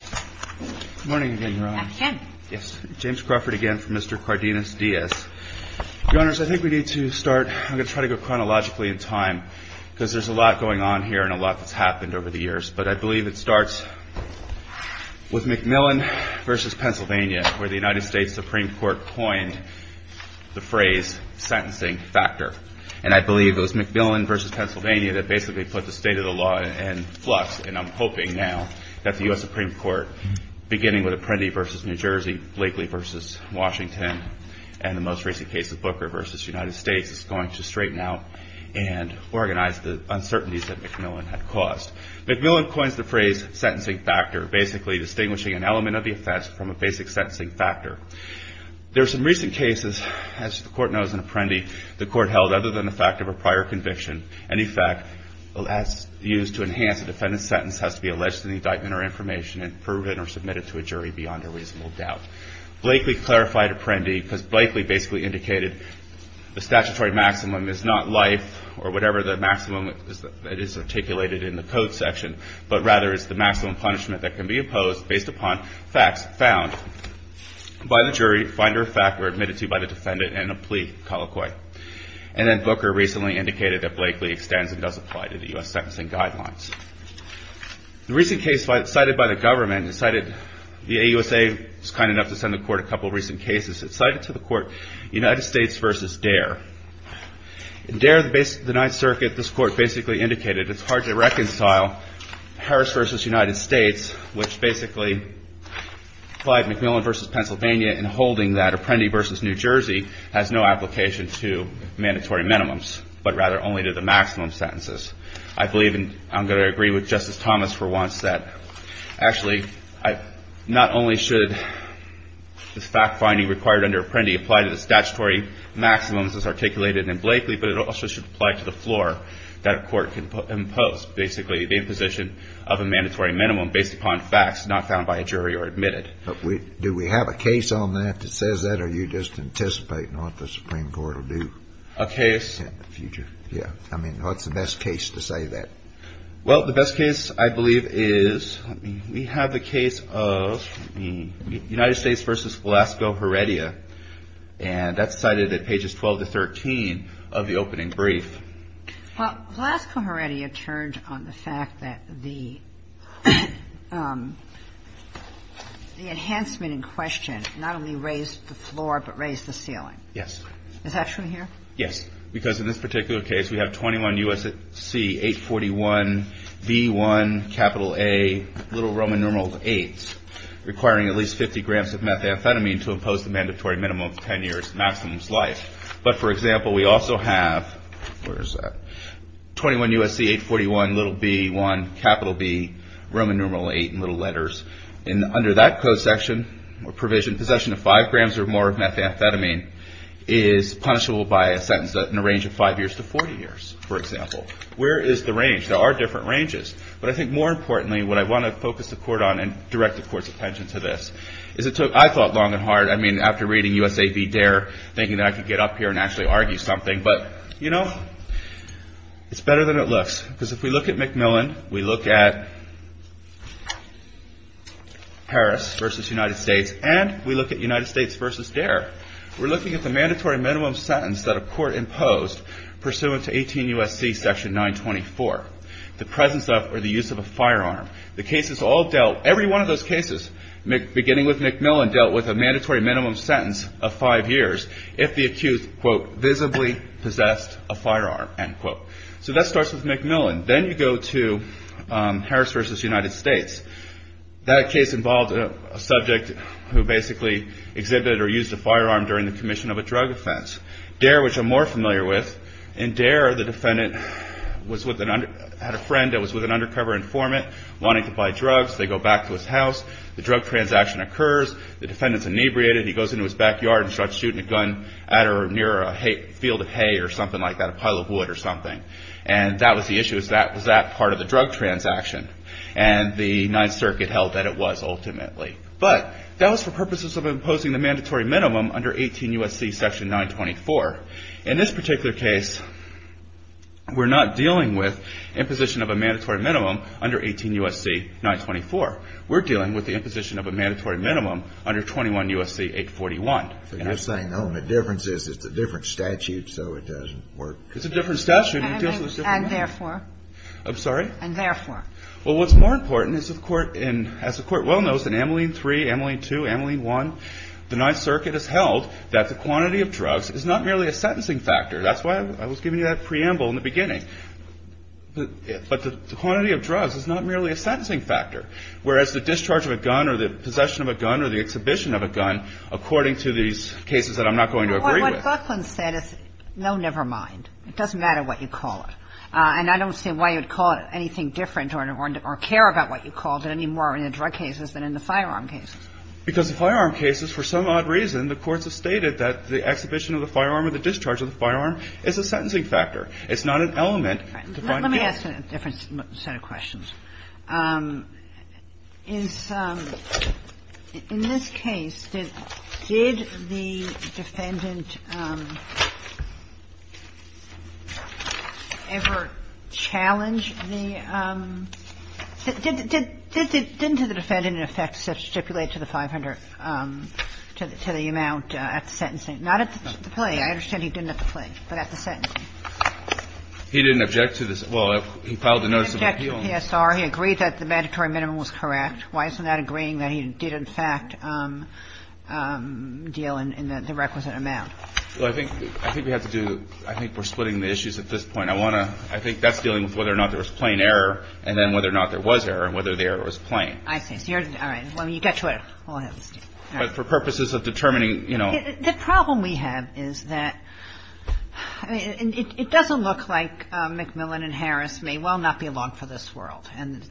Good morning again, Your Honor. I'm Kim. Yes. James Crawford again from Mr. Cardenas-Diaz. Your Honors, I think we need to start, I'm going to try to go chronologically in time, because there's a lot going on here and a lot that's happened over the years. But I believe it starts with Macmillan v. Pennsylvania, where the United States Supreme Court coined the phrase, sentencing factor. And I believe it was Macmillan v. Pennsylvania that basically put the state of the law in flux, and I'm hoping now that the U.S. Supreme Court, beginning with Apprendi v. New Jersey, Blakely v. Washington, and the most recent case of Booker v. United States, is going to straighten out and organize the uncertainties that Macmillan had caused. Macmillan coins the phrase, sentencing factor, basically distinguishing an element of the offense from a basic sentencing factor. There are some recent cases, as the Court knows in Apprendi, the Court held other than the fact of a prior conviction, any fact used to enhance a defendant's sentence has to be alleged in the indictment or information and proven or submitted to a jury beyond a reasonable doubt. Blakely clarified Apprendi, because Blakely basically indicated the statutory maximum is not life or whatever the maximum that is articulated in the code section, but rather it's the maximum punishment that can be opposed based upon facts found by the jury, find or fact or admitted to by the defendant, and a plea colloquy. And then Booker recently indicated that Blakely extends and does apply to the U.S. sentencing guidelines. The recent case cited by the government, the AUSA was kind enough to send the Court a couple of recent cases. It cited to the Court United States v. Dare. In Dare, the Ninth Circuit, this Court basically indicated it's hard to reconcile Harris v. United States, which basically applied Macmillan v. Pennsylvania in holding that Apprendi v. New Jersey has no application to mandatory minimums, but rather only to the maximum sentences. I believe, and I'm going to agree with Justice Thomas for once, that actually not only should the fact finding required under Apprendi apply to the statutory maximums as articulated in Blakely, but it also should apply to the floor that a court can impose, basically the imposition of a mandatory minimum based upon facts not found by a jury or admitted. But do we have a case on that that says that, or are you just anticipating what the Supreme Court will do? A case. In the future. Yeah. I mean, what's the best case to say that? Well, the best case, I believe, is we have the case of United States v. Glasgow Heredia, and that's cited at pages 12 to 13 of the opening brief. Well, Glasgow Heredia turned on the fact that the enhancement in question not only raised the floor, but raised the ceiling. Yes. Is that true here? Yes. Because in this particular case, we have 21 U.S.C. 841 v. 1 capital A little Roman numeral 8, requiring at least 50 grams of methamphetamine to impose the mandatory minimum of 10 years maximum's life. But, for example, we also have 21 U.S.C. 841 v. 1 capital B Roman numeral 8 in little letters. And under that code section or provision, possession of 5 grams or more of methamphetamine is punishable by a sentence in a range of 5 years to 40 years, for example. Where is the range? There are different ranges. But I think more importantly, what I want to focus the court on and direct the court's attention to this, is it took, I thought, long and hard. I mean, after reading U.S.A. v. Dare, thinking that I could get up here and actually argue something. But, you know, it's better than it looks. Because if we look at McMillan, we look at Harris v. United States, and we look at United States v. Dare, we're looking at the mandatory minimum sentence that a court imposed pursuant to 18 U.S.C. section 924. The presence of or the use of a firearm. The cases all dealt, every one of those cases, beginning with McMillan, dealt with a mandatory minimum sentence of 5 years if the accused, quote, visibly possessed a firearm, end quote. So that starts with McMillan. Then you go to Harris v. United States. That case involved a subject who basically exhibited or used a firearm during the commission of a drug offense. Dare, which I'm more familiar with, in Dare, the defendant had a friend that was with an undercover informant wanting to buy drugs. They go back to his house. The drug transaction occurs. The defendant's inebriated. He goes into his backyard and starts shooting a gun at or near a field of hay or something like that, a pile of wood or something. And that was the issue. Was that part of the drug transaction? And the Ninth Circuit held that it was ultimately. But that was for purposes of imposing the mandatory minimum under 18 U.S.C. section 924. In this particular case, we're not dealing with imposition of a mandatory minimum under 18 U.S.C. 924. We're dealing with the imposition of a mandatory minimum under 21 U.S.C. 841. So you're saying, oh, the difference is it's a different statute, so it doesn't work. It's a different statute. And therefore. I'm sorry? And therefore. Well, what's more important is, as the Court well knows, in Ameline 3, Ameline 2, Ameline 1, the Ninth Circuit has held that the quantity of drugs is not merely a sentencing factor. That's why I was giving you that preamble in the beginning. But the quantity of drugs is not merely a sentencing factor. Whereas the discharge of a gun or the possession of a gun or the exhibition of a gun, according to these cases that I'm not going to agree with. But what Buckland said is, no, never mind. It doesn't matter what you call it. And I don't see why you'd call it anything different or care about what you called it any more in the drug cases than in the firearm cases. Because the firearm cases, for some odd reason, the courts have stated that the exhibition of the firearm or the discharge of the firearm is a sentencing factor. It's not an element to find guilt. Let me ask a different set of questions. In this case, did the defendant ever challenge the — didn't the defendant, in effect, stipulate to the 500, to the amount at the sentencing? Not at the plea. I understand he didn't at the plea, but at the sentencing. He didn't object to the — well, he filed a notice of appeal. Yes, sir. He agreed that the mandatory minimum was correct. Why isn't that agreeing that he did, in fact, deal in the requisite amount? Well, I think we have to do — I think we're splitting the issues at this point. I want to — I think that's dealing with whether or not there was plain error, and then whether or not there was error, and whether the error was plain. I see. So you're — all right. Well, you get to it. All right. But for purposes of determining, you know — The problem we have is that — I mean, it doesn't look like McMillan and Harris may well not be along for this world. And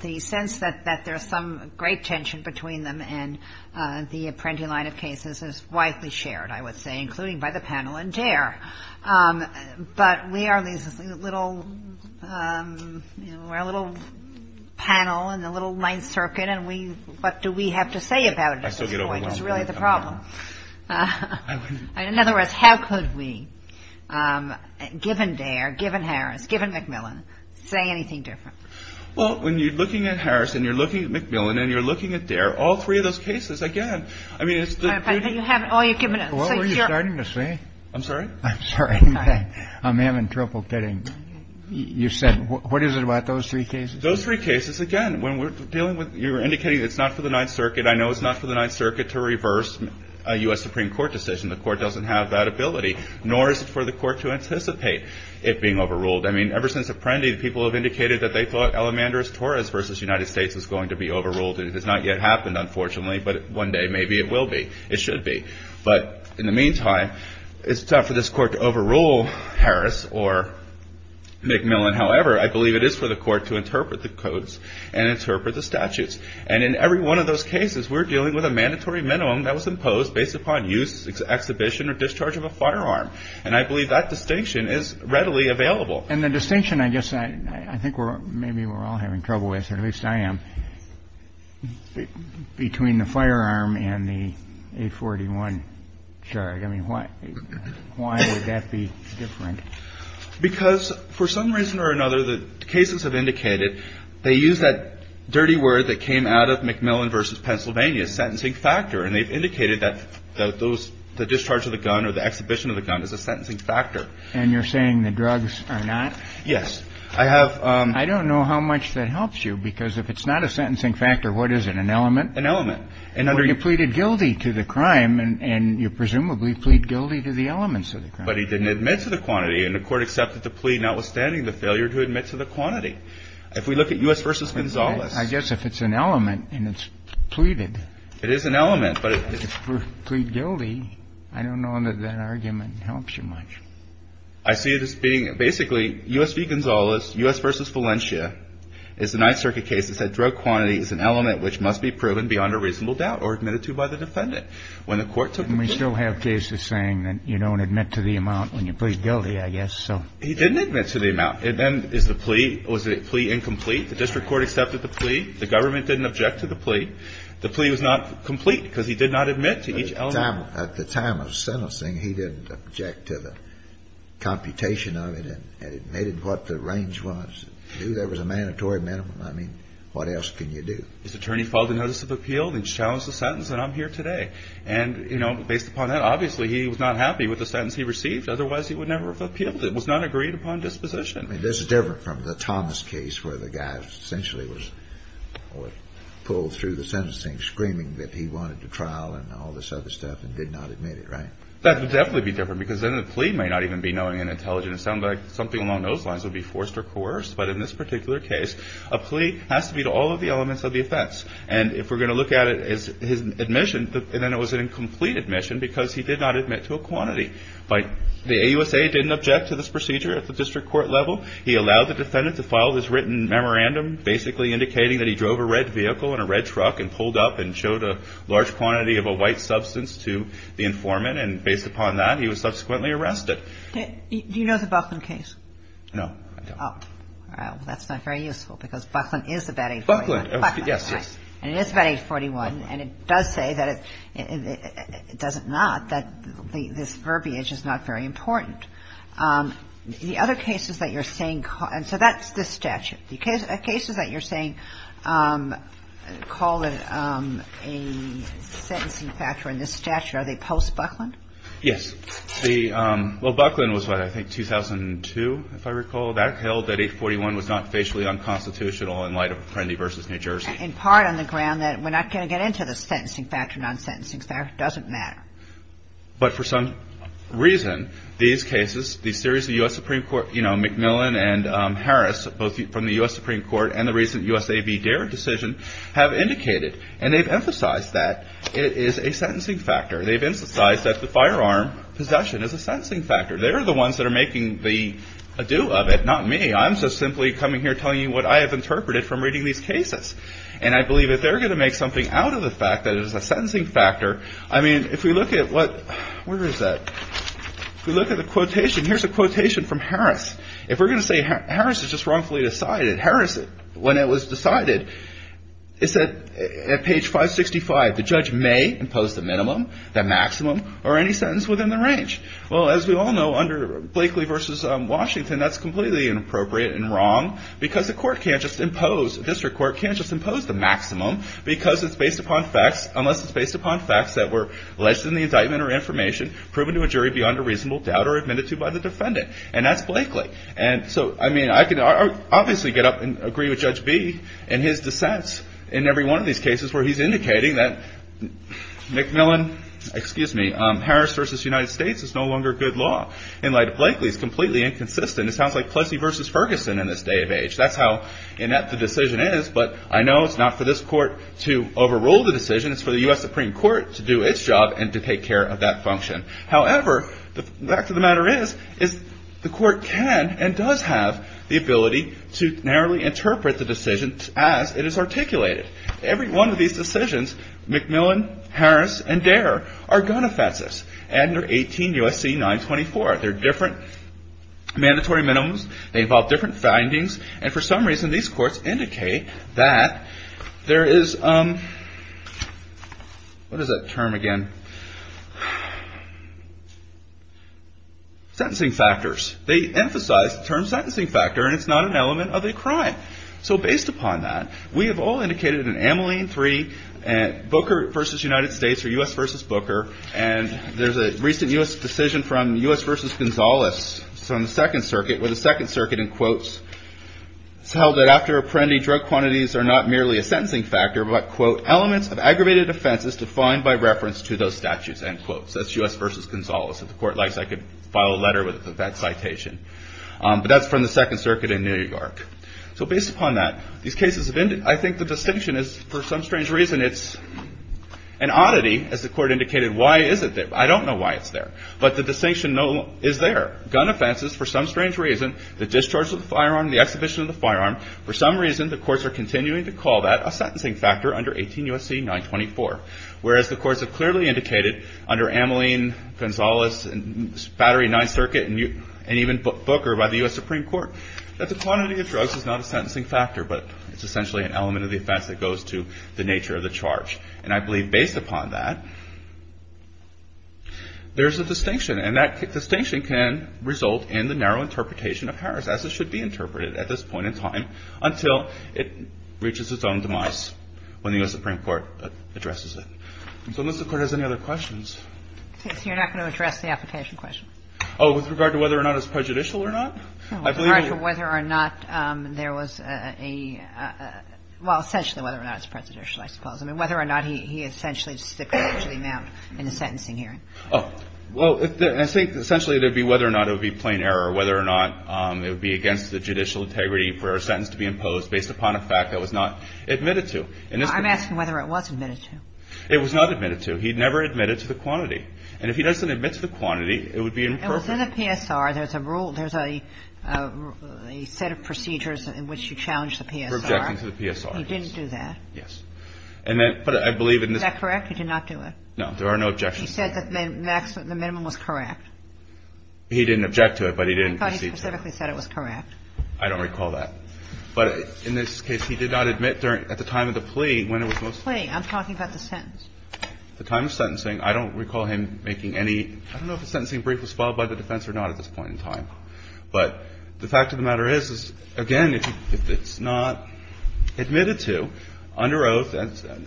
the sense that there's some great tension between them and the Apprendi line of cases is widely shared, I would say, including by the panel and DARE. But we are this little — you know, we're a little panel in the little Ninth Circuit, and we — what do we have to say about it at this point is really the problem. I wouldn't — In other words, how could we, given DARE, given Harris, given McMillan, say anything different? Well, when you're looking at Harris and you're looking at McMillan and you're looking at DARE, all three of those cases, again, I mean, it's the beauty — All right. But you haven't — oh, you've given — What were you starting to say? I'm sorry? I'm sorry. I'm having trouble getting — you said — what is it about those three cases? Those three cases, again, when we're dealing with — you're indicating it's not for the Ninth Circuit. I know it's not for the Ninth Circuit to reverse a U.S. Supreme Court decision. The court doesn't have that ability, nor is it for the court to anticipate it being overruled. I mean, ever since Apprendi, people have indicated that they thought Elemandris Torres v. United States was going to be overruled. It has not yet happened, unfortunately, but one day maybe it will be. It should be. But in the meantime, it's tough for this court to overrule Harris or McMillan. However, I believe it is for the court to interpret the codes and interpret the statutes. And in every one of those cases, we're dealing with a mandatory minimum that was imposed based upon use, exhibition, or discharge of a firearm. And I believe that distinction is readily available. And the distinction, I guess, I think maybe we're all having trouble with, or at least I am, between the firearm and the A41 charge. I mean, why would that be different? Because for some reason or another, the cases have indicated they use that dirty word that came out of McMillan v. Pennsylvania, sentencing factor. And they've indicated that the discharge of the gun or the exhibition of the gun is a sentencing factor. And you're saying the drugs are not? Yes. I don't know how much that helps you, because if it's not a sentencing factor, what is it, an element? An element. Or you pleaded guilty to the crime, and you presumably plead guilty to the elements of the crime. But he didn't admit to the quantity. And the Court accepted the plea notwithstanding the failure to admit to the quantity. If we look at U.S. v. Gonzalez. I guess if it's an element and it's pleaded. It is an element. But if you plead guilty, I don't know that that argument helps you much. I see this being basically, U.S. v. Gonzalez, U.S. v. Valencia, is the Ninth Circuit case that said drug quantity is an element which must be proven beyond a reasonable doubt or admitted to by the defendant. When the Court took the plea. And we still have cases saying that you don't admit to the amount when you plead guilty, I guess, so. He didn't admit to the amount. And then is the plea, was the plea incomplete? The district court accepted the plea. The government didn't object to the plea. The plea was not complete because he did not admit to each element. At the time of sentencing, he didn't object to the computation of it and admitted what the range was. There was a mandatory minimum. I mean, what else can you do? This attorney filed a notice of appeal and challenged the sentence, and I'm here today. And, you know, based upon that, obviously, he was not happy with the sentence he received. Otherwise, he would never have appealed it. It was not agreed upon disposition. I mean, this is different from the Thomas case where the guy essentially was pulled through the sentencing screaming that he wanted to trial and all this other stuff and did not admit it, right? That would definitely be different because then the plea may not even be knowing and intelligent. It sounded like something along those lines would be forced or coerced. But in this particular case, a plea has to be to all of the elements of the offense. And if we're going to look at it as his admission, and then it was an incomplete admission because he did not admit to a quantity. The AUSA didn't object to this procedure at the district court level. He allowed the defendant to file this written memorandum basically indicating that he drove a red vehicle and a red truck and pulled up and showed a large quantity of a white substance to the informant. And based upon that, he was subsequently arrested. Do you know the Buckland case? No, I don't. Well, that's not very useful because Buckland is about age 41. Buckland, yes, yes. And it is about age 41. And it does say that it doesn't not, that this verbiage is not very important. The other cases that you're saying – and so that's this statute. The cases that you're saying call it a sentencing factor in this statute, are they post-Buckland? Yes. The – well, Buckland was what, I think 2002, if I recall. That held that age 41 was not facially unconstitutional in light of Apprendi v. New Jersey. In part on the ground that we're not going to get into the sentencing factor, non-sentencing factor. It doesn't matter. But for some reason, these cases, the series of U.S. Supreme Court, you know, McMillan and Harris, both from the U.S. Supreme Court and the recent U.S.A. v. Dare decision have indicated and they've emphasized that it is a sentencing factor. They've emphasized that the firearm possession is a sentencing factor. They're the ones that are making the ado of it, not me. I'm just simply coming here telling you what I have interpreted from reading these cases. And I believe that they're going to make something out of the fact that it is a sentencing factor. I mean, if we look at what – where is that? If we look at the quotation, here's a quotation from Harris. If we're going to say Harris is just wrongfully decided, Harris, when it was decided, it said at page 565, the judge may impose the minimum, the maximum, or any sentence within the range. Well, as we all know, under Blakely v. Washington, that's completely inappropriate and wrong because the court can't just impose – the district court can't just impose the maximum because it's based upon facts unless it's based upon facts that were alleged in the indictment or information proven to a jury beyond a reasonable doubt or admitted to by the defendant. And that's Blakely. And so, I mean, I can obviously get up and agree with Judge B in his dissents in every one of these cases where he's indicating that McMillan – excuse me, Harris v. United States is no longer good law. In light of Blakely, it's completely inconsistent. It sounds like Plessy v. Ferguson in this day and age. That's how inept the decision is, but I know it's not for this court to overrule the decision. It's for the U.S. Supreme Court to do its job and to take care of that function. However, the fact of the matter is the court can and does have the ability to narrowly interpret the decision as it is articulated. Every one of these decisions, McMillan, Harris, and Dare are gun offenses. And they're 18 U.S.C. 924. They're different mandatory minimums. They involve different findings. And for some reason, these courts indicate that there is – what is that term again? Sentencing factors. They emphasize the term sentencing factor, and it's not an element of a crime. So based upon that, we have all indicated in Ameline 3, Booker v. United States or U.S. v. Booker, and there's a recent U.S. decision from U.S. v. Gonzales. It's on the Second Circuit, where the Second Circuit, in quotes, it's held that after apprehending drug quantities are not merely a sentencing factor, but, quote, elements of aggravated offenses defined by reference to those statutes, end quote. So that's U.S. v. Gonzales. If the court likes, I could file a letter with that citation. But that's from the Second Circuit in New York. So based upon that, these cases have been – I think the distinction is for some strange reason, and it's an oddity, as the court indicated. Why is it there? I don't know why it's there. But the distinction is there. Gun offenses for some strange reason, the discharge of the firearm, the exhibition of the firearm, for some reason the courts are continuing to call that a sentencing factor under 18 U.S.C. 924, whereas the courts have clearly indicated under Ameline, Gonzales, Battery 9th Circuit, and even Booker by the U.S. Supreme Court, that the quantity of drugs is not a sentencing factor, but it's essentially an element of the offense that goes to the nature of the charge. And I believe based upon that, there's a distinction. And that distinction can result in the narrow interpretation of Harris, as it should be interpreted at this point in time, until it reaches its own demise when the U.S. Supreme Court addresses it. So unless the Court has any other questions. Okay. So you're not going to address the application question? Oh, with regard to whether or not it's prejudicial or not? With regard to whether or not there was a – well, essentially whether or not it's prejudicial, I suppose. I mean, whether or not he essentially sticks to the amount in a sentencing hearing. Oh. Well, essentially it would be whether or not it would be plain error, whether or not it would be against the judicial integrity for a sentence to be imposed based upon a fact that was not admitted to. I'm asking whether it was admitted to. It was not admitted to. He never admitted to the quantity. And if he doesn't admit to the quantity, it would be imperfect. Well, within the PSR, there's a rule – there's a set of procedures in which you challenge the PSR. We're objecting to the PSR. He didn't do that. Yes. And then – but I believe in this – Is that correct? He did not do it? No. There are no objections to it. He said that the minimum was correct. He didn't object to it, but he didn't proceed to it. I thought he specifically said it was correct. I don't recall that. But in this case, he did not admit during – at the time of the plea when it was most – Plea. I'm talking about the sentence. The time of sentencing. I don't recall him making any – I don't know if a sentencing brief was filed by the defense or not at this point in time. But the fact of the matter is, again, if it's not admitted to under oath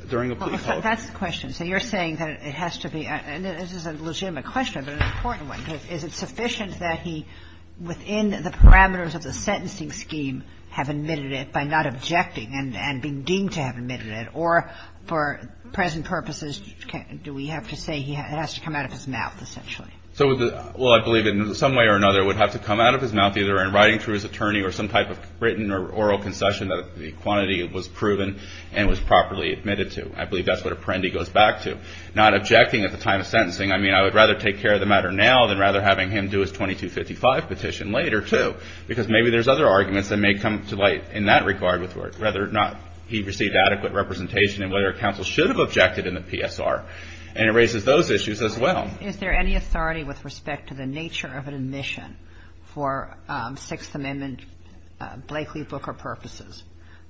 during a plea – Well, that's the question. So you're saying that it has to be – and this is a legitimate question, but an important one. Is it sufficient that he, within the parameters of the sentencing scheme, have admitted it by not objecting and being deemed to have admitted it? Or for present purposes, do we have to say it has to come out of his mouth, essentially? Well, I believe in some way or another it would have to come out of his mouth, either in writing through his attorney or some type of written or oral concession that the quantity was proven and was properly admitted to. I believe that's what a perende goes back to. Not objecting at the time of sentencing, I mean, I would rather take care of the matter now than rather having him do his 2255 petition later, too, because maybe there's other arguments that may come to light in that regard with whether or not he received adequate representation and whether counsel should have objected in the PSR. And it raises those issues as well. Is there any authority with respect to the nature of an admission for Sixth Amendment Blakeley-Booker purposes,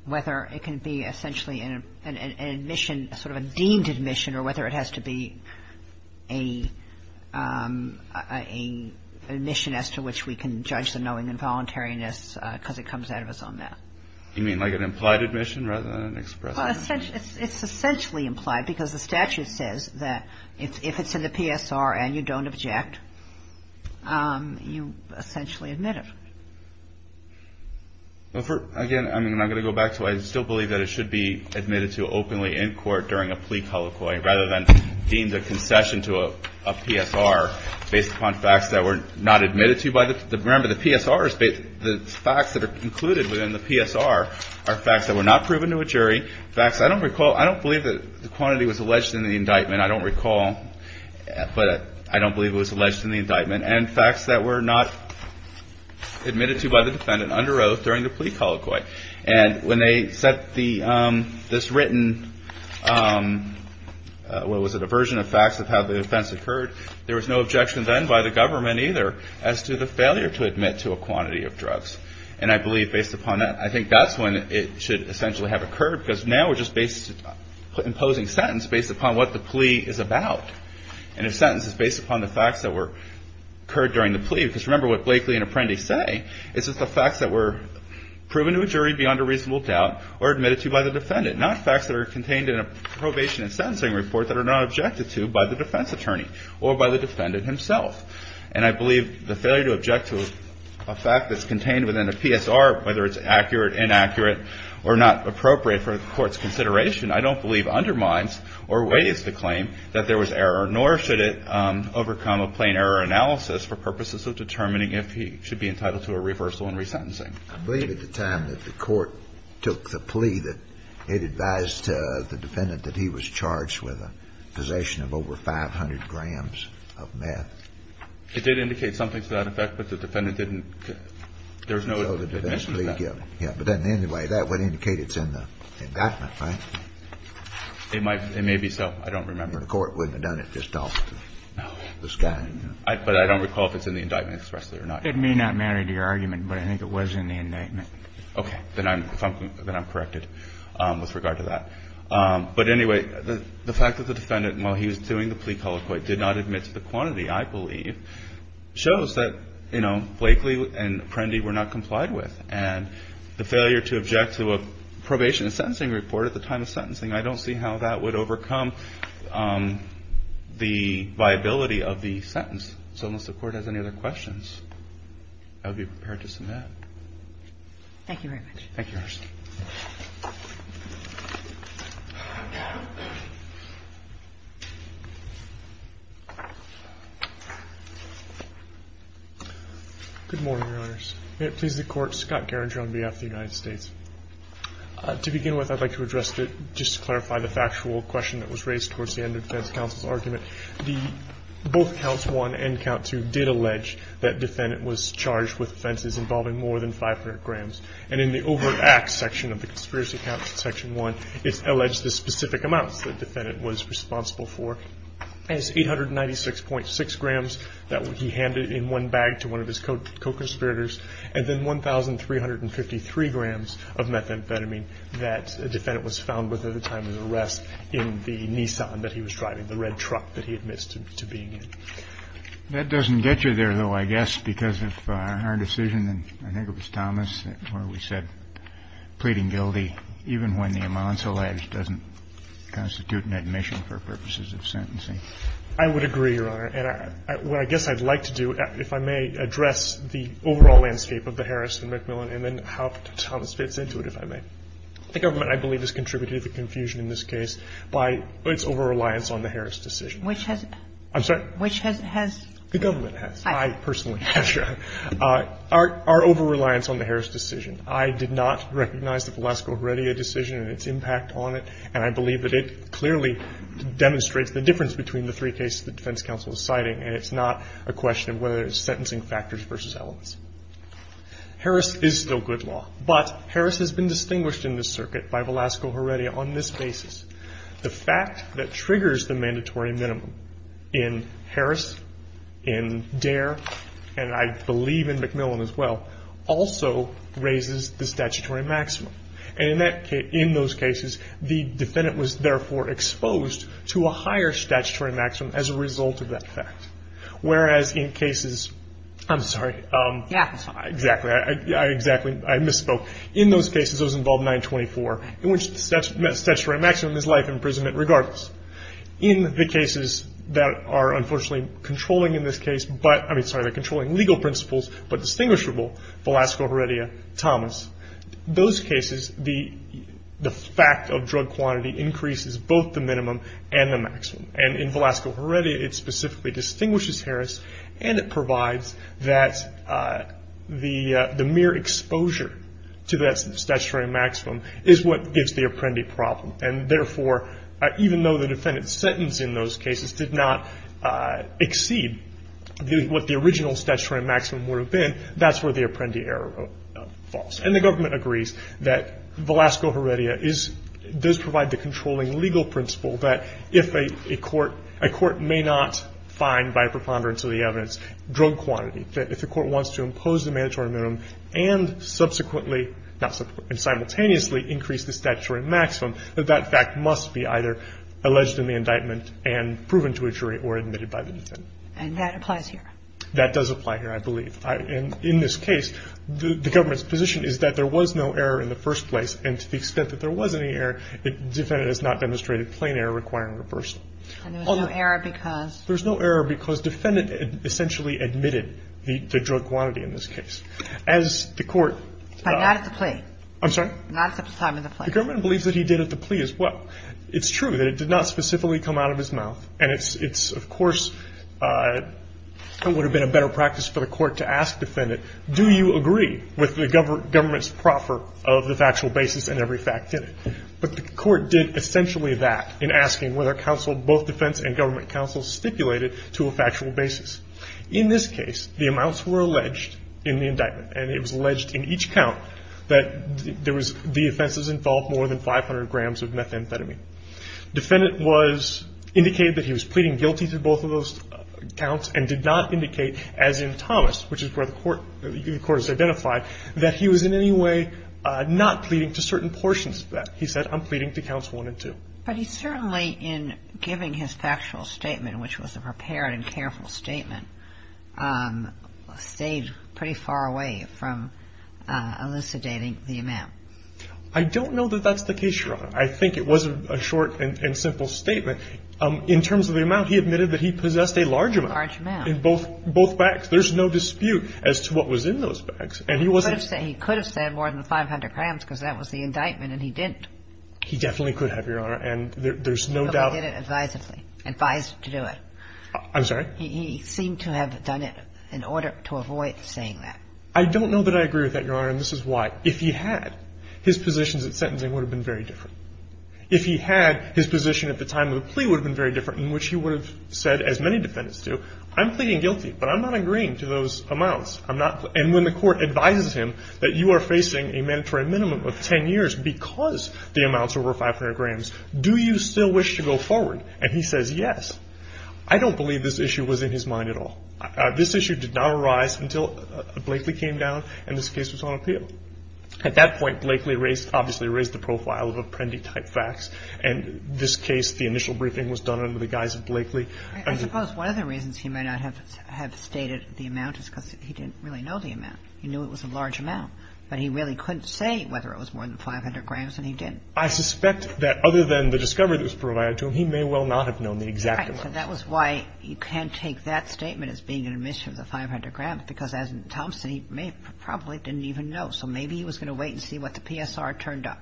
whether it can be essentially an admission, sort of a deemed admission, or whether it has to be an admission as to which we can judge knowing involuntariness because it comes out of us on that? You mean like an implied admission rather than an express admission? It's essentially implied because the statute says that if it's in the PSR and you don't object, you essentially admit it. Again, I'm not going to go back to it. I still believe that it should be admitted to openly in court during a plea colloquy rather than deemed a concession to a PSR based upon facts that were not admitted to. Remember, the facts that are included within the PSR are facts that were not proven to a jury, facts I don't recall, I don't believe that the quantity was alleged in the indictment, I don't recall, but I don't believe it was alleged in the indictment, and facts that were not admitted to by the defendant under oath during the plea colloquy. And when they set this written, what was it, a version of facts of how the offense occurred, there was no objection then by the government either as to the failure to admit to a quantity of drugs. And I believe based upon that, I think that's when it should essentially have occurred because now we're just imposing sentence based upon what the plea is about. And a sentence is based upon the facts that occurred during the plea because remember what Blakely and Apprendi say is it's the facts that were proven to a jury beyond a reasonable doubt or admitted to by the defendant, not facts that are contained in a probation and sentencing report that are not objected to by the defense attorney or by the defendant himself. And I believe the failure to object to a fact that's contained within a PSR, whether it's accurate, inaccurate, or not appropriate for the court's consideration, I don't believe undermines or weighs the claim that there was error, nor should it overcome a plain error analysis for purposes of determining if he should be entitled to a reversal and resentencing. I believe at the time that the court took the plea that it advised the defendant that he was charged with a possession of over 500 grams of meth. It did indicate something to that effect, but the defendant didn't. There's no admission to that. Yeah. But then anyway, that would indicate it's in the indictment, right? It might. It may be so. I don't remember. The court wouldn't have done it just off the sky. No. But I don't recall if it's in the indictment expressly or not. It may not matter to your argument, but I think it was in the indictment. Okay. Then I'm corrected with regard to that. But anyway, the fact that the defendant, while he was doing the plea colloquy, did not admit to the quantity, I believe, shows that, you know, Blakely and Prendy were not complied with. And the failure to object to a probation and sentencing report at the time of sentencing, I don't see how that would overcome the viability of the sentence. So unless the Court has any other questions, I would be prepared to submit. Thank you very much. Thank you, Your Honor. Good morning, Your Honors. May it please the Court, Scott Carringer on behalf of the United States. To begin with, I'd like to address, just to clarify the factual question that was raised towards the end of defense counsel's argument. Both counts one and count two did allege that defendant was charged with offenses involving more than 500 grams. And in the overt acts section of the conspiracy counts in section one, it's alleged the specific amounts the defendant was responsible for as 896.6 grams that he handed in one bag to one of his co-conspirators, and then 1,353 grams of methamphetamine that the defendant was found with at the time of the arrest in the Nissan that he was driving, the red truck that he had missed to being in. That doesn't get you there, though, I guess, because if our decision, and I think it was Thomas, where we said pleading guilty even when the amounts alleged doesn't constitute an admission for purposes of sentencing. I would agree, Your Honor. And what I guess I'd like to do, if I may, address the overall landscape of the Harris and McMillan and then how Thomas fits into it, if I may. The government, I believe, has contributed to the confusion in this case by its over-reliance on the Harris decision. Which has? I'm sorry? Which has? The government has. I personally have. Our over-reliance on the Harris decision. I did not recognize the Velasco-Heredia decision and its impact on it, and I believe that it clearly demonstrates the difference between the three cases the defense counsel is citing, and it's not a question of whether it's sentencing factors versus elements. Harris is still good law, but Harris has been distinguished in this circuit by Velasco-Heredia on this basis. The fact that triggers the mandatory minimum in Harris, in Dare, and I believe in McMillan as well, also raises the statutory maximum. And in those cases, the defendant was therefore exposed to a higher statutory maximum as a result of that fact. Whereas in cases, I'm sorry, exactly, I misspoke. In those cases, those involve 924, in which the statutory maximum is life imprisonment regardless. In the cases that are unfortunately controlling in this case, but, I mean, sorry, they're controlling legal principles, but distinguishable, Velasco-Heredia, Thomas. Those cases, the fact of drug quantity increases both the minimum and the maximum. And in Velasco-Heredia, it specifically distinguishes Harris, and it provides that the mere exposure to that statutory maximum is what gives the apprendee problem. And, therefore, even though the defendant's sentence in those cases did not exceed what the original statutory maximum would have been, that's where the apprendee error falls. And the government agrees that Velasco-Heredia does provide the controlling legal principle that if a court may not find, by preponderance of the evidence, drug quantity, that if the not simultaneously increase the statutory maximum, that that fact must be either alleged in the indictment and proven to a jury or admitted by the defendant. And that applies here? That does apply here, I believe. And in this case, the government's position is that there was no error in the first place, and to the extent that there was any error, the defendant has not demonstrated plain error requiring reversal. And there's no error because? There's no error because defendant essentially admitted the drug quantity in this case. As the court. But not at the plea. I'm sorry? Not at the time of the plea. The government believes that he did at the plea as well. It's true that it did not specifically come out of his mouth, and it's, of course, it would have been a better practice for the court to ask the defendant, do you agree with the government's proffer of the factual basis and every fact in it? But the court did essentially that in asking whether counsel, both defense and government counsel, stipulated to a factual basis. In this case, the amounts were alleged in the indictment, and it was alleged in each count that there was, the offenses involved more than 500 grams of methamphetamine. Defendant was, indicated that he was pleading guilty to both of those counts and did not indicate, as in Thomas, which is where the court is identified, that he was in any way not pleading to certain portions of that. He said, I'm pleading to counts one and two. But he certainly, in giving his factual statement, which was a prepared and careful statement, stayed pretty far away from elucidating the amount. I don't know that that's the case, Your Honor. I think it was a short and simple statement. In terms of the amount, he admitted that he possessed a large amount. A large amount. In both bags. There's no dispute as to what was in those bags. And he wasn't. He could have said more than 500 grams because that was the indictment, and he didn't. He definitely could have, Your Honor, and there's no doubt. But he did it advisedly, advised to do it. I'm sorry? He seemed to have done it in order to avoid saying that. I don't know that I agree with that, Your Honor, and this is why. If he had, his positions at sentencing would have been very different. If he had, his position at the time of the plea would have been very different, in which he would have said, as many defendants do, I'm pleading guilty, but I'm not agreeing to those amounts. I'm not. And when the Court advises him that you are facing a mandatory minimum of 10 years because the amount's over 500 grams, do you still wish to go forward? And he says yes. I don't believe this issue was in his mind at all. This issue did not arise until Blakely came down and this case was on appeal. At that point, Blakely raised, obviously raised the profile of Apprendi type facts, and this case, the initial briefing was done under the guise of Blakely. I suppose one of the reasons he may not have stated the amount is because he didn't really know the amount. He knew it was a large amount, but he really couldn't say whether it was more than 500 grams, and he didn't. I suspect that other than the discovery that was provided to him, he may well not have known the exact amount. Right. So that was why you can't take that statement as being an admission of the 500 grams because, as Thompson, he probably didn't even know. So maybe he was going to wait and see what the PSR turned up.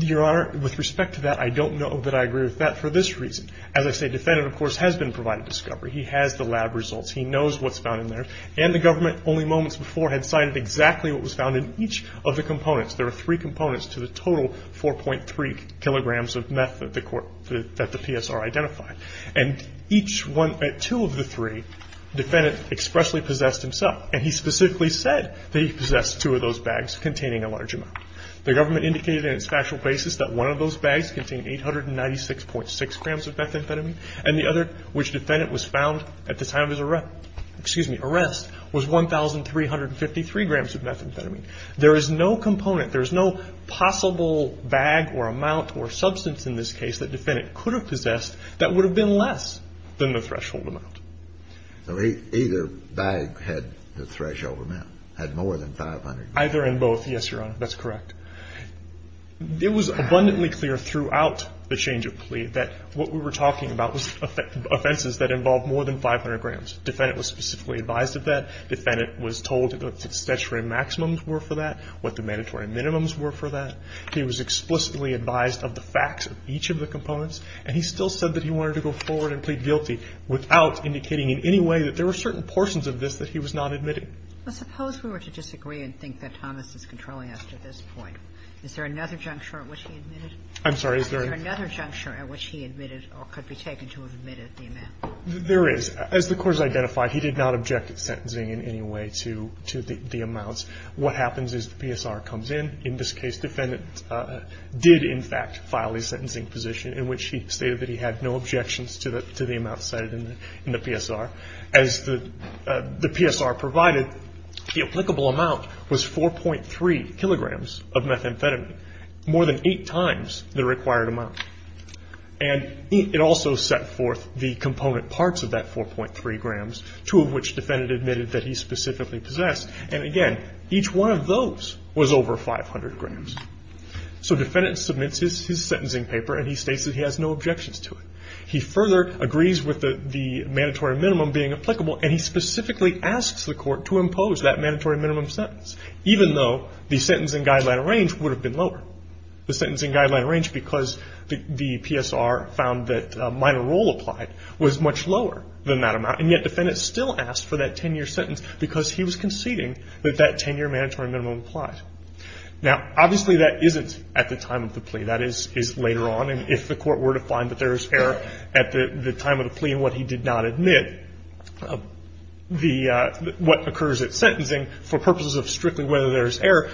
Your Honor, with respect to that, I don't know that I agree with that for this reason. As I say, the defendant, of course, has been provided discovery. He has the lab results. He knows what's found in there, and the government only moments before had signed exactly what was found in each of the components. There are three components to the total 4.3 kilograms of meth that the PSR identified. And each one, two of the three, the defendant expressly possessed himself, and he specifically said that he possessed two of those bags containing a large amount. The government indicated in its factual basis that one of those bags contained 896.6 grams of methamphetamine, and the other, which the defendant was found at the time of his arrest, was 1,353 grams of methamphetamine. There is no component, there is no possible bag or amount or substance in this case that the defendant could have possessed that would have been less than the threshold amount. So either bag had the threshold amount, had more than 500 grams? Either and both, yes, Your Honor. That's correct. It was abundantly clear throughout the change of plea that what we were talking about was offenses that involved more than 500 grams. The defendant was specifically advised of that. The defendant was told what the statutory maximums were for that, what the mandatory minimums were for that. He was explicitly advised of the facts of each of the components, and he still said that he wanted to go forward and plead guilty without indicating in any way that there were certain portions of this that he was not admitting. Well, suppose we were to disagree and think that Thomas is controlling us to this point. Is there another juncture at which he admitted? I'm sorry. Is there another juncture at which he admitted or could be taken to have admitted the amount? As the court has identified, he did not object at sentencing in any way to the amounts. What happens is the PSR comes in. In this case, defendant did, in fact, file a sentencing position in which he stated that he had no objections to the amount cited in the PSR. As the PSR provided, the applicable amount was 4.3 kilograms of methamphetamine, more than eight times the required amount. And it also set forth the component parts of that 4.3 grams, two of which defendant admitted that he specifically possessed. And, again, each one of those was over 500 grams. So defendant submits his sentencing paper, and he states that he has no objections to it. He further agrees with the mandatory minimum being applicable, and he specifically asks the court to impose that mandatory minimum sentence, even though the sentencing guideline range would have been lower. The sentencing guideline range, because the PSR found that minor role applied, was much lower than that amount. And yet defendant still asked for that 10-year sentence because he was conceding that that 10-year mandatory minimum applied. Now, obviously, that isn't at the time of the plea. That is later on. And if the court were to find that there is error at the time of the plea in what he did not admit, what occurs at sentencing, for purposes of strictly whether there is error,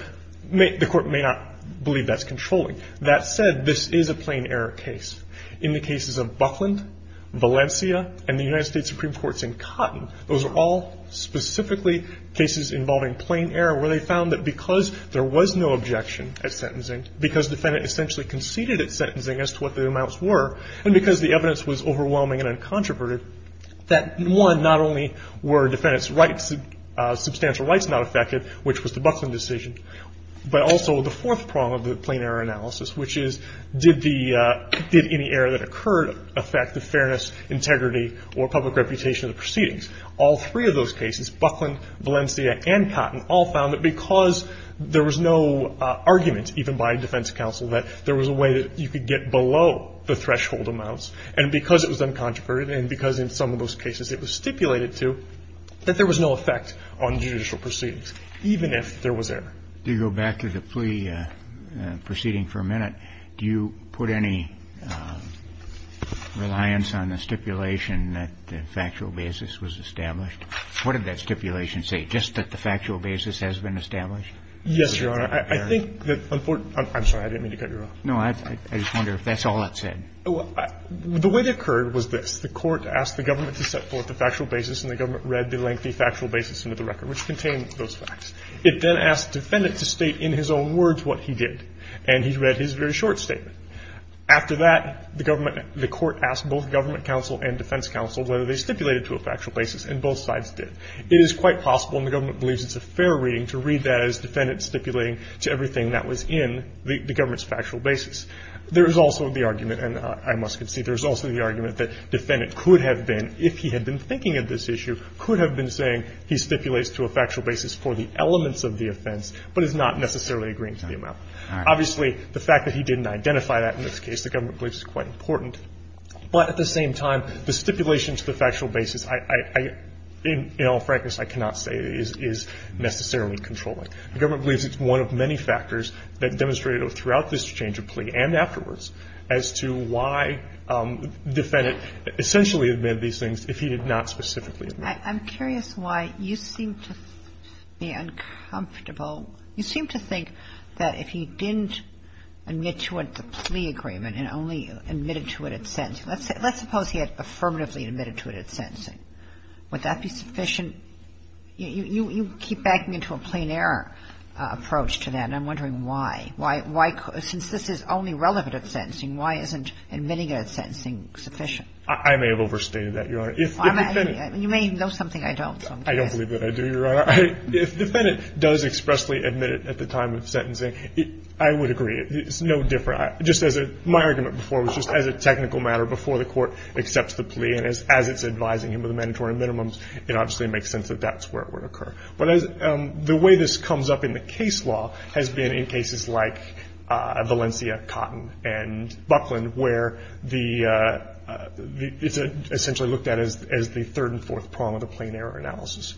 the court may not believe that's controlling. That said, this is a plain error case. In the cases of Buckland, Valencia, and the United States Supreme Court's in Cotton, those are all specifically cases involving plain error where they found that because there was no objection at sentencing, because defendant essentially conceded at sentencing as to what the amounts were, and because the evidence was overwhelming and uncontroverted, that, one, not only were defendant's rights, substantial rights not affected, which was the Buckland decision, but also the fourth prong of the plain error analysis, which is did the, did any error that occurred affect the fairness, integrity, or public reputation of the proceedings? All three of those cases, Buckland, Valencia, and Cotton, all found that because there was no argument, even by defense counsel, that there was a way that you could get below the threshold amounts, and because it was uncontroverted and because in some of those cases it was stipulated to, that there was no effect on judicial proceedings, even if there was error. Do you go back to the plea proceeding for a minute? Do you put any reliance on the stipulation that the factual basis was established? What did that stipulation say, just that the factual basis has been established? Yes, Your Honor. I think that, I'm sorry. I didn't mean to cut you off. I just wonder if that's all it said. The way it occurred was this. The court asked the government to set forth the factual basis, and the government read the lengthy factual basis into the record, which contained those facts. It then asked the defendant to state in his own words what he did, and he read his very short statement. After that, the government, the court asked both government counsel and defense counsel whether they stipulated to a factual basis, and both sides did. It is quite possible, and the government believes it's a fair reading, to read that as defendants stipulating to everything that was in the government's factual basis. There is also the argument, and I must concede, there is also the argument that the defendant could have been, if he had been thinking of this issue, could have been saying he stipulates to a factual basis for the elements of the offense, but is not necessarily agreeing to the amount. Obviously, the fact that he didn't identify that in this case, the government believes, is quite important. But at the same time, the stipulation to the factual basis, in all frankness, I cannot say is necessarily controlling. The government believes it's one of many factors that demonstrated throughout this change of plea and afterwards as to why the defendant essentially admitted these things if he did not specifically admit them. Kagan. I'm curious why you seem to be uncomfortable. You seem to think that if he didn't admit to it the plea agreement and only admitted to it at sentencing, let's suppose he had affirmatively admitted to it at sentencing. Would that be sufficient? I mean, you keep backing into a plain error approach to that, and I'm wondering why. Since this is only relevant at sentencing, why isn't admitting it at sentencing sufficient? I may have overstated that, Your Honor. You may know something I don't. I don't believe that I do, Your Honor. If the defendant does expressly admit it at the time of sentencing, I would agree. It's no different. Just as my argument before was just as a technical matter before the Court accepts the plea and as it's advising him of the mandatory minimums, it obviously makes sense that that's where it would occur. But the way this comes up in the case law has been in cases like Valencia, Cotton, and Buckland, where it's essentially looked at as the third and fourth prong of the plain error analysis.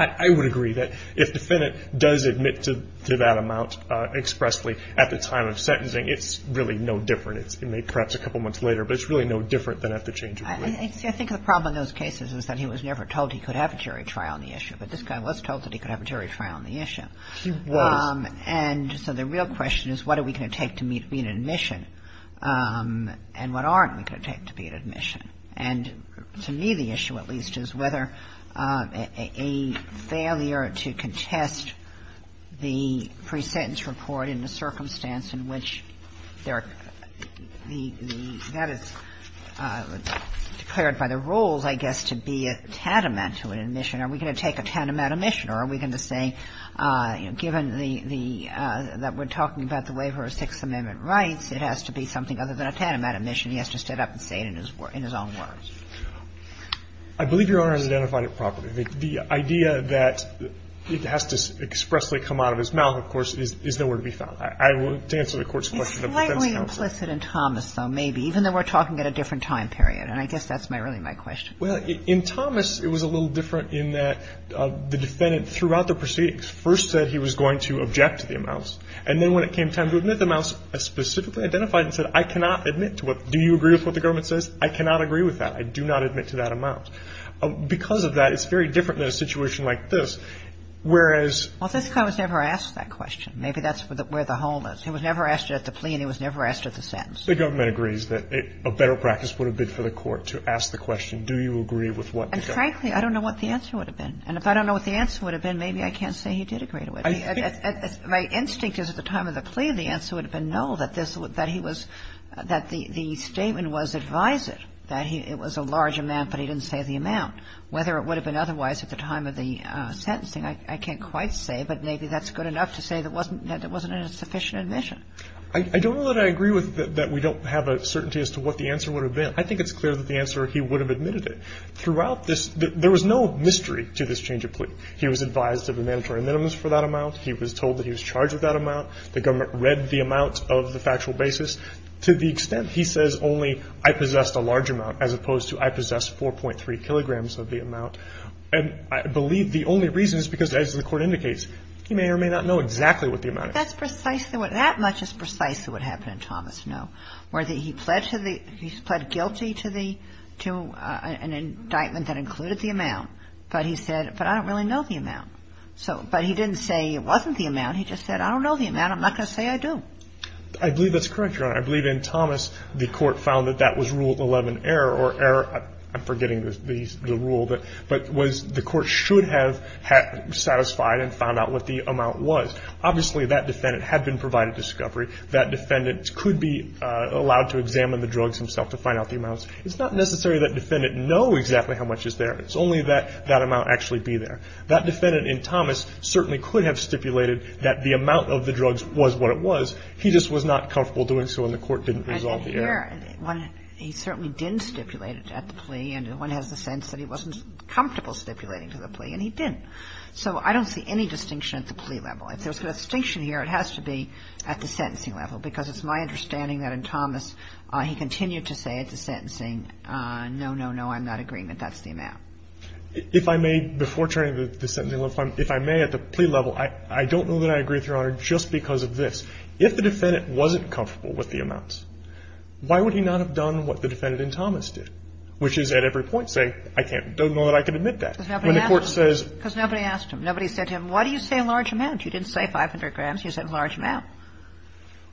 I would agree that if the defendant does admit to that amount expressly at the time of sentencing, it's really no different. I think the problem in those cases is that he was never told he could have a jury trial on the issue. But this guy was told that he could have a jury trial on the issue. He was. And so the real question is what are we going to take to be an admission, and what aren't we going to take to be an admission. And to me the issue, at least, is whether a failure to contest the pre-sentence report in the circumstance in which there are the – that is declared by the rules, I guess, to be a tantamount to an admission. Are we going to take a tantamount admission or are we going to say, you know, given the – that we're talking about the waiver of Sixth Amendment rights, it has to be something other than a tantamount admission. He has to stand up and say it in his own words. I believe Your Honor has identified it properly. The idea that it has to expressly come out of his mouth, of course, is nowhere to be found. I will – to answer the Court's question of the pre-sentence counsel. It's slightly implicit in Thomas, though, maybe, even though we're talking at a different time period. And I guess that's my – really my question. Well, in Thomas it was a little different in that the defendant throughout the proceedings first said he was going to object to the amounts. And then when it came time to admit the amounts, specifically identified and said, I cannot admit to what – do you agree with what the government says? I cannot agree with that. I do not admit to that amount. Because of that, it's very different in a situation like this, whereas – Well, this guy was never asked that question. Maybe that's where the hole is. He was never asked it at the plea and he was never asked it at the sentence. The government agrees that a better practice would have been for the Court to ask the question, do you agree with what the government – And frankly, I don't know what the answer would have been. And if I don't know what the answer would have been, maybe I can't say he did agree to it. I think – My instinct is at the time of the plea the answer would have been no, that this – that he was – that the statement was advised that he – it was a large amount, but he didn't say the amount. Whether it would have been otherwise at the time of the sentencing, I can't quite say, but maybe that's good enough to say that wasn't – that it wasn't a sufficient admission. I don't know that I agree with that we don't have a certainty as to what the answer would have been. I think it's clear that the answer he would have admitted it. Throughout this – there was no mystery to this change of plea. He was advised of a mandatory minimum for that amount. He was told that he was charged with that amount. The government read the amount of the factual basis to the extent he says only I possessed a large amount as opposed to I possess 4.3 kilograms of the amount. And I believe the only reason is because, as the Court indicates, he may or may not know exactly what the amount is. That's precisely what – that much is precisely what happened in Thomas, no? Where he pled to the – he pled guilty to the – to an indictment that included the amount, but he said, but I don't really know the amount. So – but he didn't say it wasn't the amount. He just said, I don't know the amount. I believe that's correct, Your Honor. I believe in Thomas, the Court found that that was Rule 11 error or error – I'm forgetting the rule that – but was – the Court should have satisfied and found out what the amount was. Obviously, that defendant had been provided discovery. That defendant could be allowed to examine the drugs himself to find out the amounts. It's not necessary that defendant know exactly how much is there. It's only that that amount actually be there. That defendant in Thomas certainly could have stipulated that the amount of the drugs was what it was. He just was not comfortable doing so, and the Court didn't resolve the error. And then here, he certainly didn't stipulate it at the plea, and one has the sense that he wasn't comfortable stipulating to the plea, and he didn't. So I don't see any distinction at the plea level. If there's a distinction here, it has to be at the sentencing level, because it's my understanding that in Thomas he continued to say at the sentencing, no, no, no, I'm not agreeing that that's the amount. If I may, before turning to the sentencing level, if I may, at the plea level, I don't know that I agree with Your Honor just because of this. If the defendant wasn't comfortable with the amounts, why would he not have done what the defendant in Thomas did, which is at every point say, I don't know that I can admit that. When the Court says — Because nobody asked him. Nobody said to him, why do you say a large amount? You didn't say 500 grams. You said a large amount.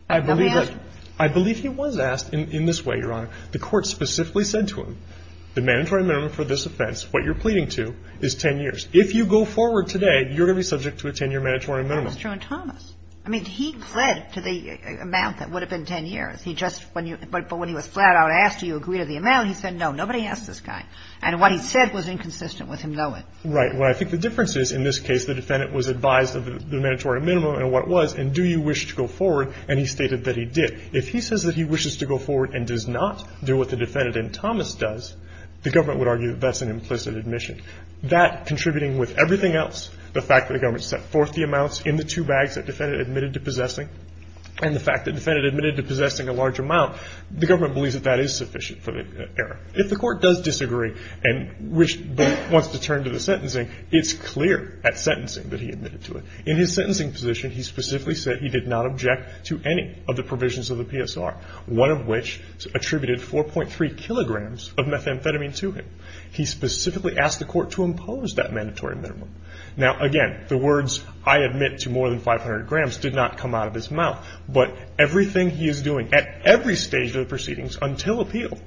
Nobody asked him. I believe he was asked in this way, Your Honor. The Court specifically said to him, the mandatory minimum for this offense, what you're pleading to, is 10 years. If you go forward today, you're going to be subject to a 10-year mandatory minimum. That's true in Thomas. I mean, he pled to the amount that would have been 10 years. He just — but when he was flat-out asked, do you agree to the amount, he said no. Nobody asked this guy. And what he said was inconsistent with him knowing. Right. Well, I think the difference is, in this case, the defendant was advised of the mandatory minimum and what it was, and do you wish to go forward, and he stated that he did. If he says that he wishes to go forward and does not do what the defendant in Thomas does, the government would argue that that's an implicit admission. That, contributing with everything else, the fact that the government set forth the two bags that the defendant admitted to possessing, and the fact that the defendant admitted to possessing a large amount, the government believes that that is sufficient for the error. If the Court does disagree and wants to turn to the sentencing, it's clear at sentencing that he admitted to it. In his sentencing position, he specifically said he did not object to any of the provisions of the PSR, one of which attributed 4.3 kilograms of methamphetamine to him. He specifically asked the Court to impose that mandatory minimum. Now, again, the words, I admit to more than 500 grams, did not come out of his mouth. But everything he is doing at every stage of the proceedings until appeal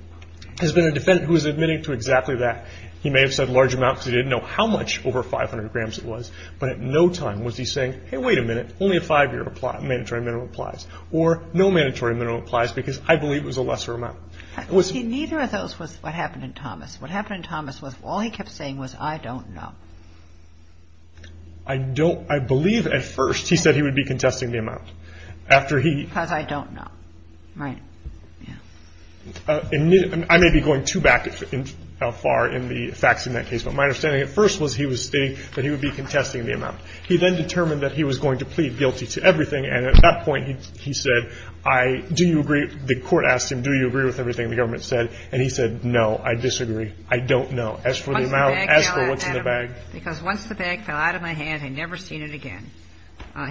has been a defendant who is admitting to exactly that. He may have said large amounts. He didn't know how much over 500 grams it was. But at no time was he saying, hey, wait a minute, only a five-year mandatory minimum applies, or no mandatory minimum applies because I believe it was a lesser amount. It was not. Kagan. Neither of those was what happened in Thomas. What happened in Thomas was all he kept saying was I don't know. I don't. I believe at first he said he would be contesting the amount. After he. Because I don't know. Right. Yeah. I may be going too back in how far in the facts in that case. But my understanding at first was he was stating that he would be contesting the amount. He then determined that he was going to plead guilty to everything. And at that point, he said, I, do you agree, the Court asked him, do you agree with everything the government said? And he said, no, I disagree. I don't know. As for the amount. As for what's in the bag. Because once the bag fell out of my hand, I'd never seen it again.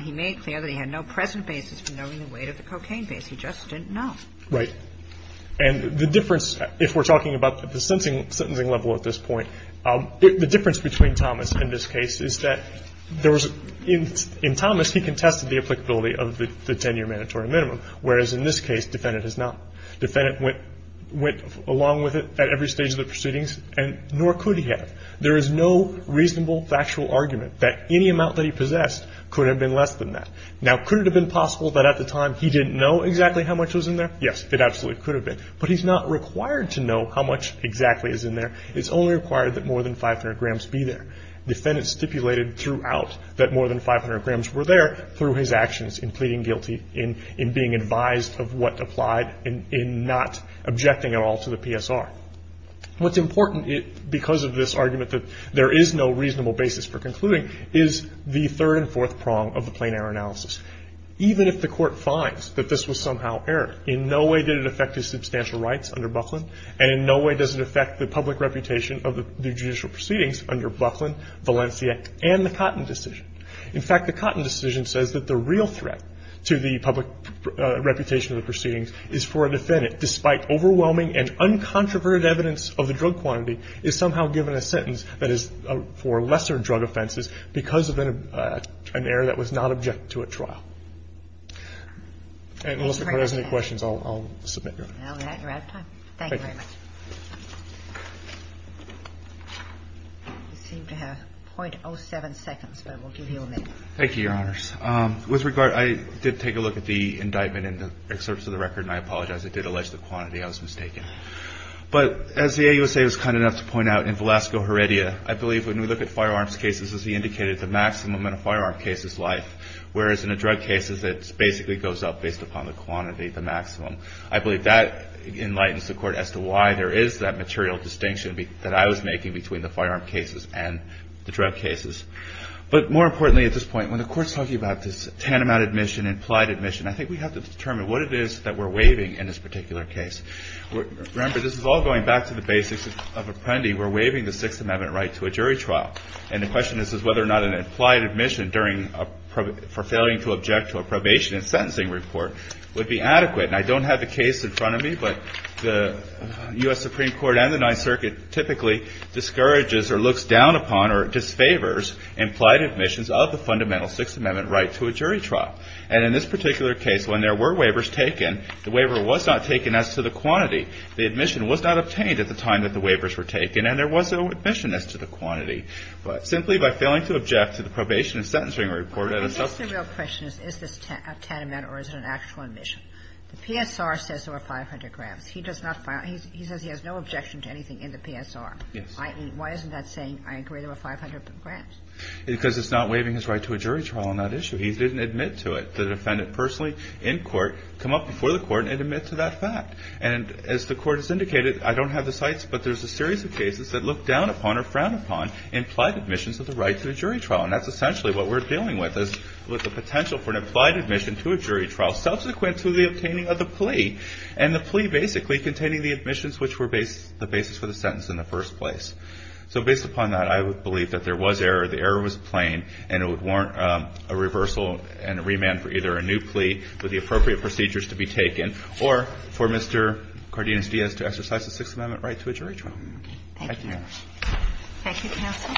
He made clear that he had no present basis for knowing the weight of the cocaine base. He just didn't know. Right. And the difference, if we're talking about the sentencing level at this point, the difference between Thomas and this case is that there was, in Thomas, he contested the applicability of the ten-year mandatory minimum, whereas in this case, defendant has not. Defendant went along with it at every stage of the proceedings, and nor could he have. There is no reasonable factual argument that any amount that he possessed could have been less than that. Now, could it have been possible that at the time he didn't know exactly how much was in there? Yes, it absolutely could have been. But he's not required to know how much exactly is in there. It's only required that more than 500 grams be there. Defendant stipulated throughout that more than 500 grams were there through his actions in pleading guilty, in being advised of what applied, in not objecting at all to the PSR. What's important because of this argument that there is no reasonable basis for concluding is the third and fourth prong of the plain error analysis. Even if the Court finds that this was somehow error, in no way did it affect his substantial rights under Buckland, and in no way does it affect the public reputation of the judicial proceedings under Buckland, Valencia, and the Cotton decision. In fact, the Cotton decision says that the real threat to the public reputation of the proceedings is for a defendant, despite overwhelming and uncontroverted evidence of the drug quantity, is somehow given a sentence that is for lesser drug offenses because of an error that was not objected to at trial. And unless the Court has any questions, I'll submit your honor. Now that you're out of time. Thank you very much. Thank you. You seem to have .07 seconds, but we'll give you a minute. Thank you, Your Honors. With regard, I did take a look at the indictment in the excerpts of the record, and I apologize. It did allege the quantity. I was mistaken. But as the AUSA was kind enough to point out, in Velasco Heredia, I believe when we look at firearms cases, as he indicated, the maximum in a firearm case is life, whereas in a drug case, it basically goes up based upon the quantity, the maximum. I believe that enlightens the Court as to why there is that material distinction that I was making between the firearm cases and the drug cases. But more importantly at this point, when the Court is talking about this tantamount admission, implied admission, I think we have to determine what it is that we're Remember, this is all going back to the basics of appending or waiving the Sixth Amendment right to a jury trial. And the question is whether or not an implied admission for failing to object to a probation and sentencing report would be adequate. And I don't have the case in front of me, but the U.S. Supreme Court and the Ninth Circuit typically discourages or looks down upon or disfavors implied admissions of the fundamental Sixth Amendment right to a jury trial. And in this particular case, when there were waivers taken, the waiver was not taken as to the quantity. The admission was not obtained at the time that the waivers were taken, and there was no admission as to the quantity. But simply by failing to object to the probation and sentencing report at a subsequent time. But I guess the real question is, is this a tantamount or is it an actual admission? The PSR says there were 500 grams. He does not find – he says he has no objection to anything in the PSR. Yes. I.e., why isn't that saying, I agree, there were 500 grams? Because it's not waiving his right to a jury trial on that issue. He didn't admit to it. The defendant personally in court come up before the court and admit to that fact. And as the court has indicated, I don't have the sites, but there's a series of cases that look down upon or frown upon implied admissions of the right to a jury trial. And that's essentially what we're dealing with, is with the potential for an implied admission to a jury trial subsequent to the obtaining of the plea. And the plea basically containing the admissions which were the basis for the sentence in the first place. So based upon that, I would believe that there was error, the error was plain, and it would warrant a reversal and a remand for either a new plea with the appropriate procedures to be taken, or for Mr. Cardenas-Diaz to exercise a Sixth Amendment right to a jury trial. Thank you, Your Honor. Thank you, counsel.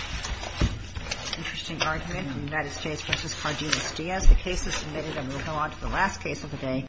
Interesting argument from the United States versus Cardenas-Diaz. The case is submitted. And we'll go on to the last case of the day.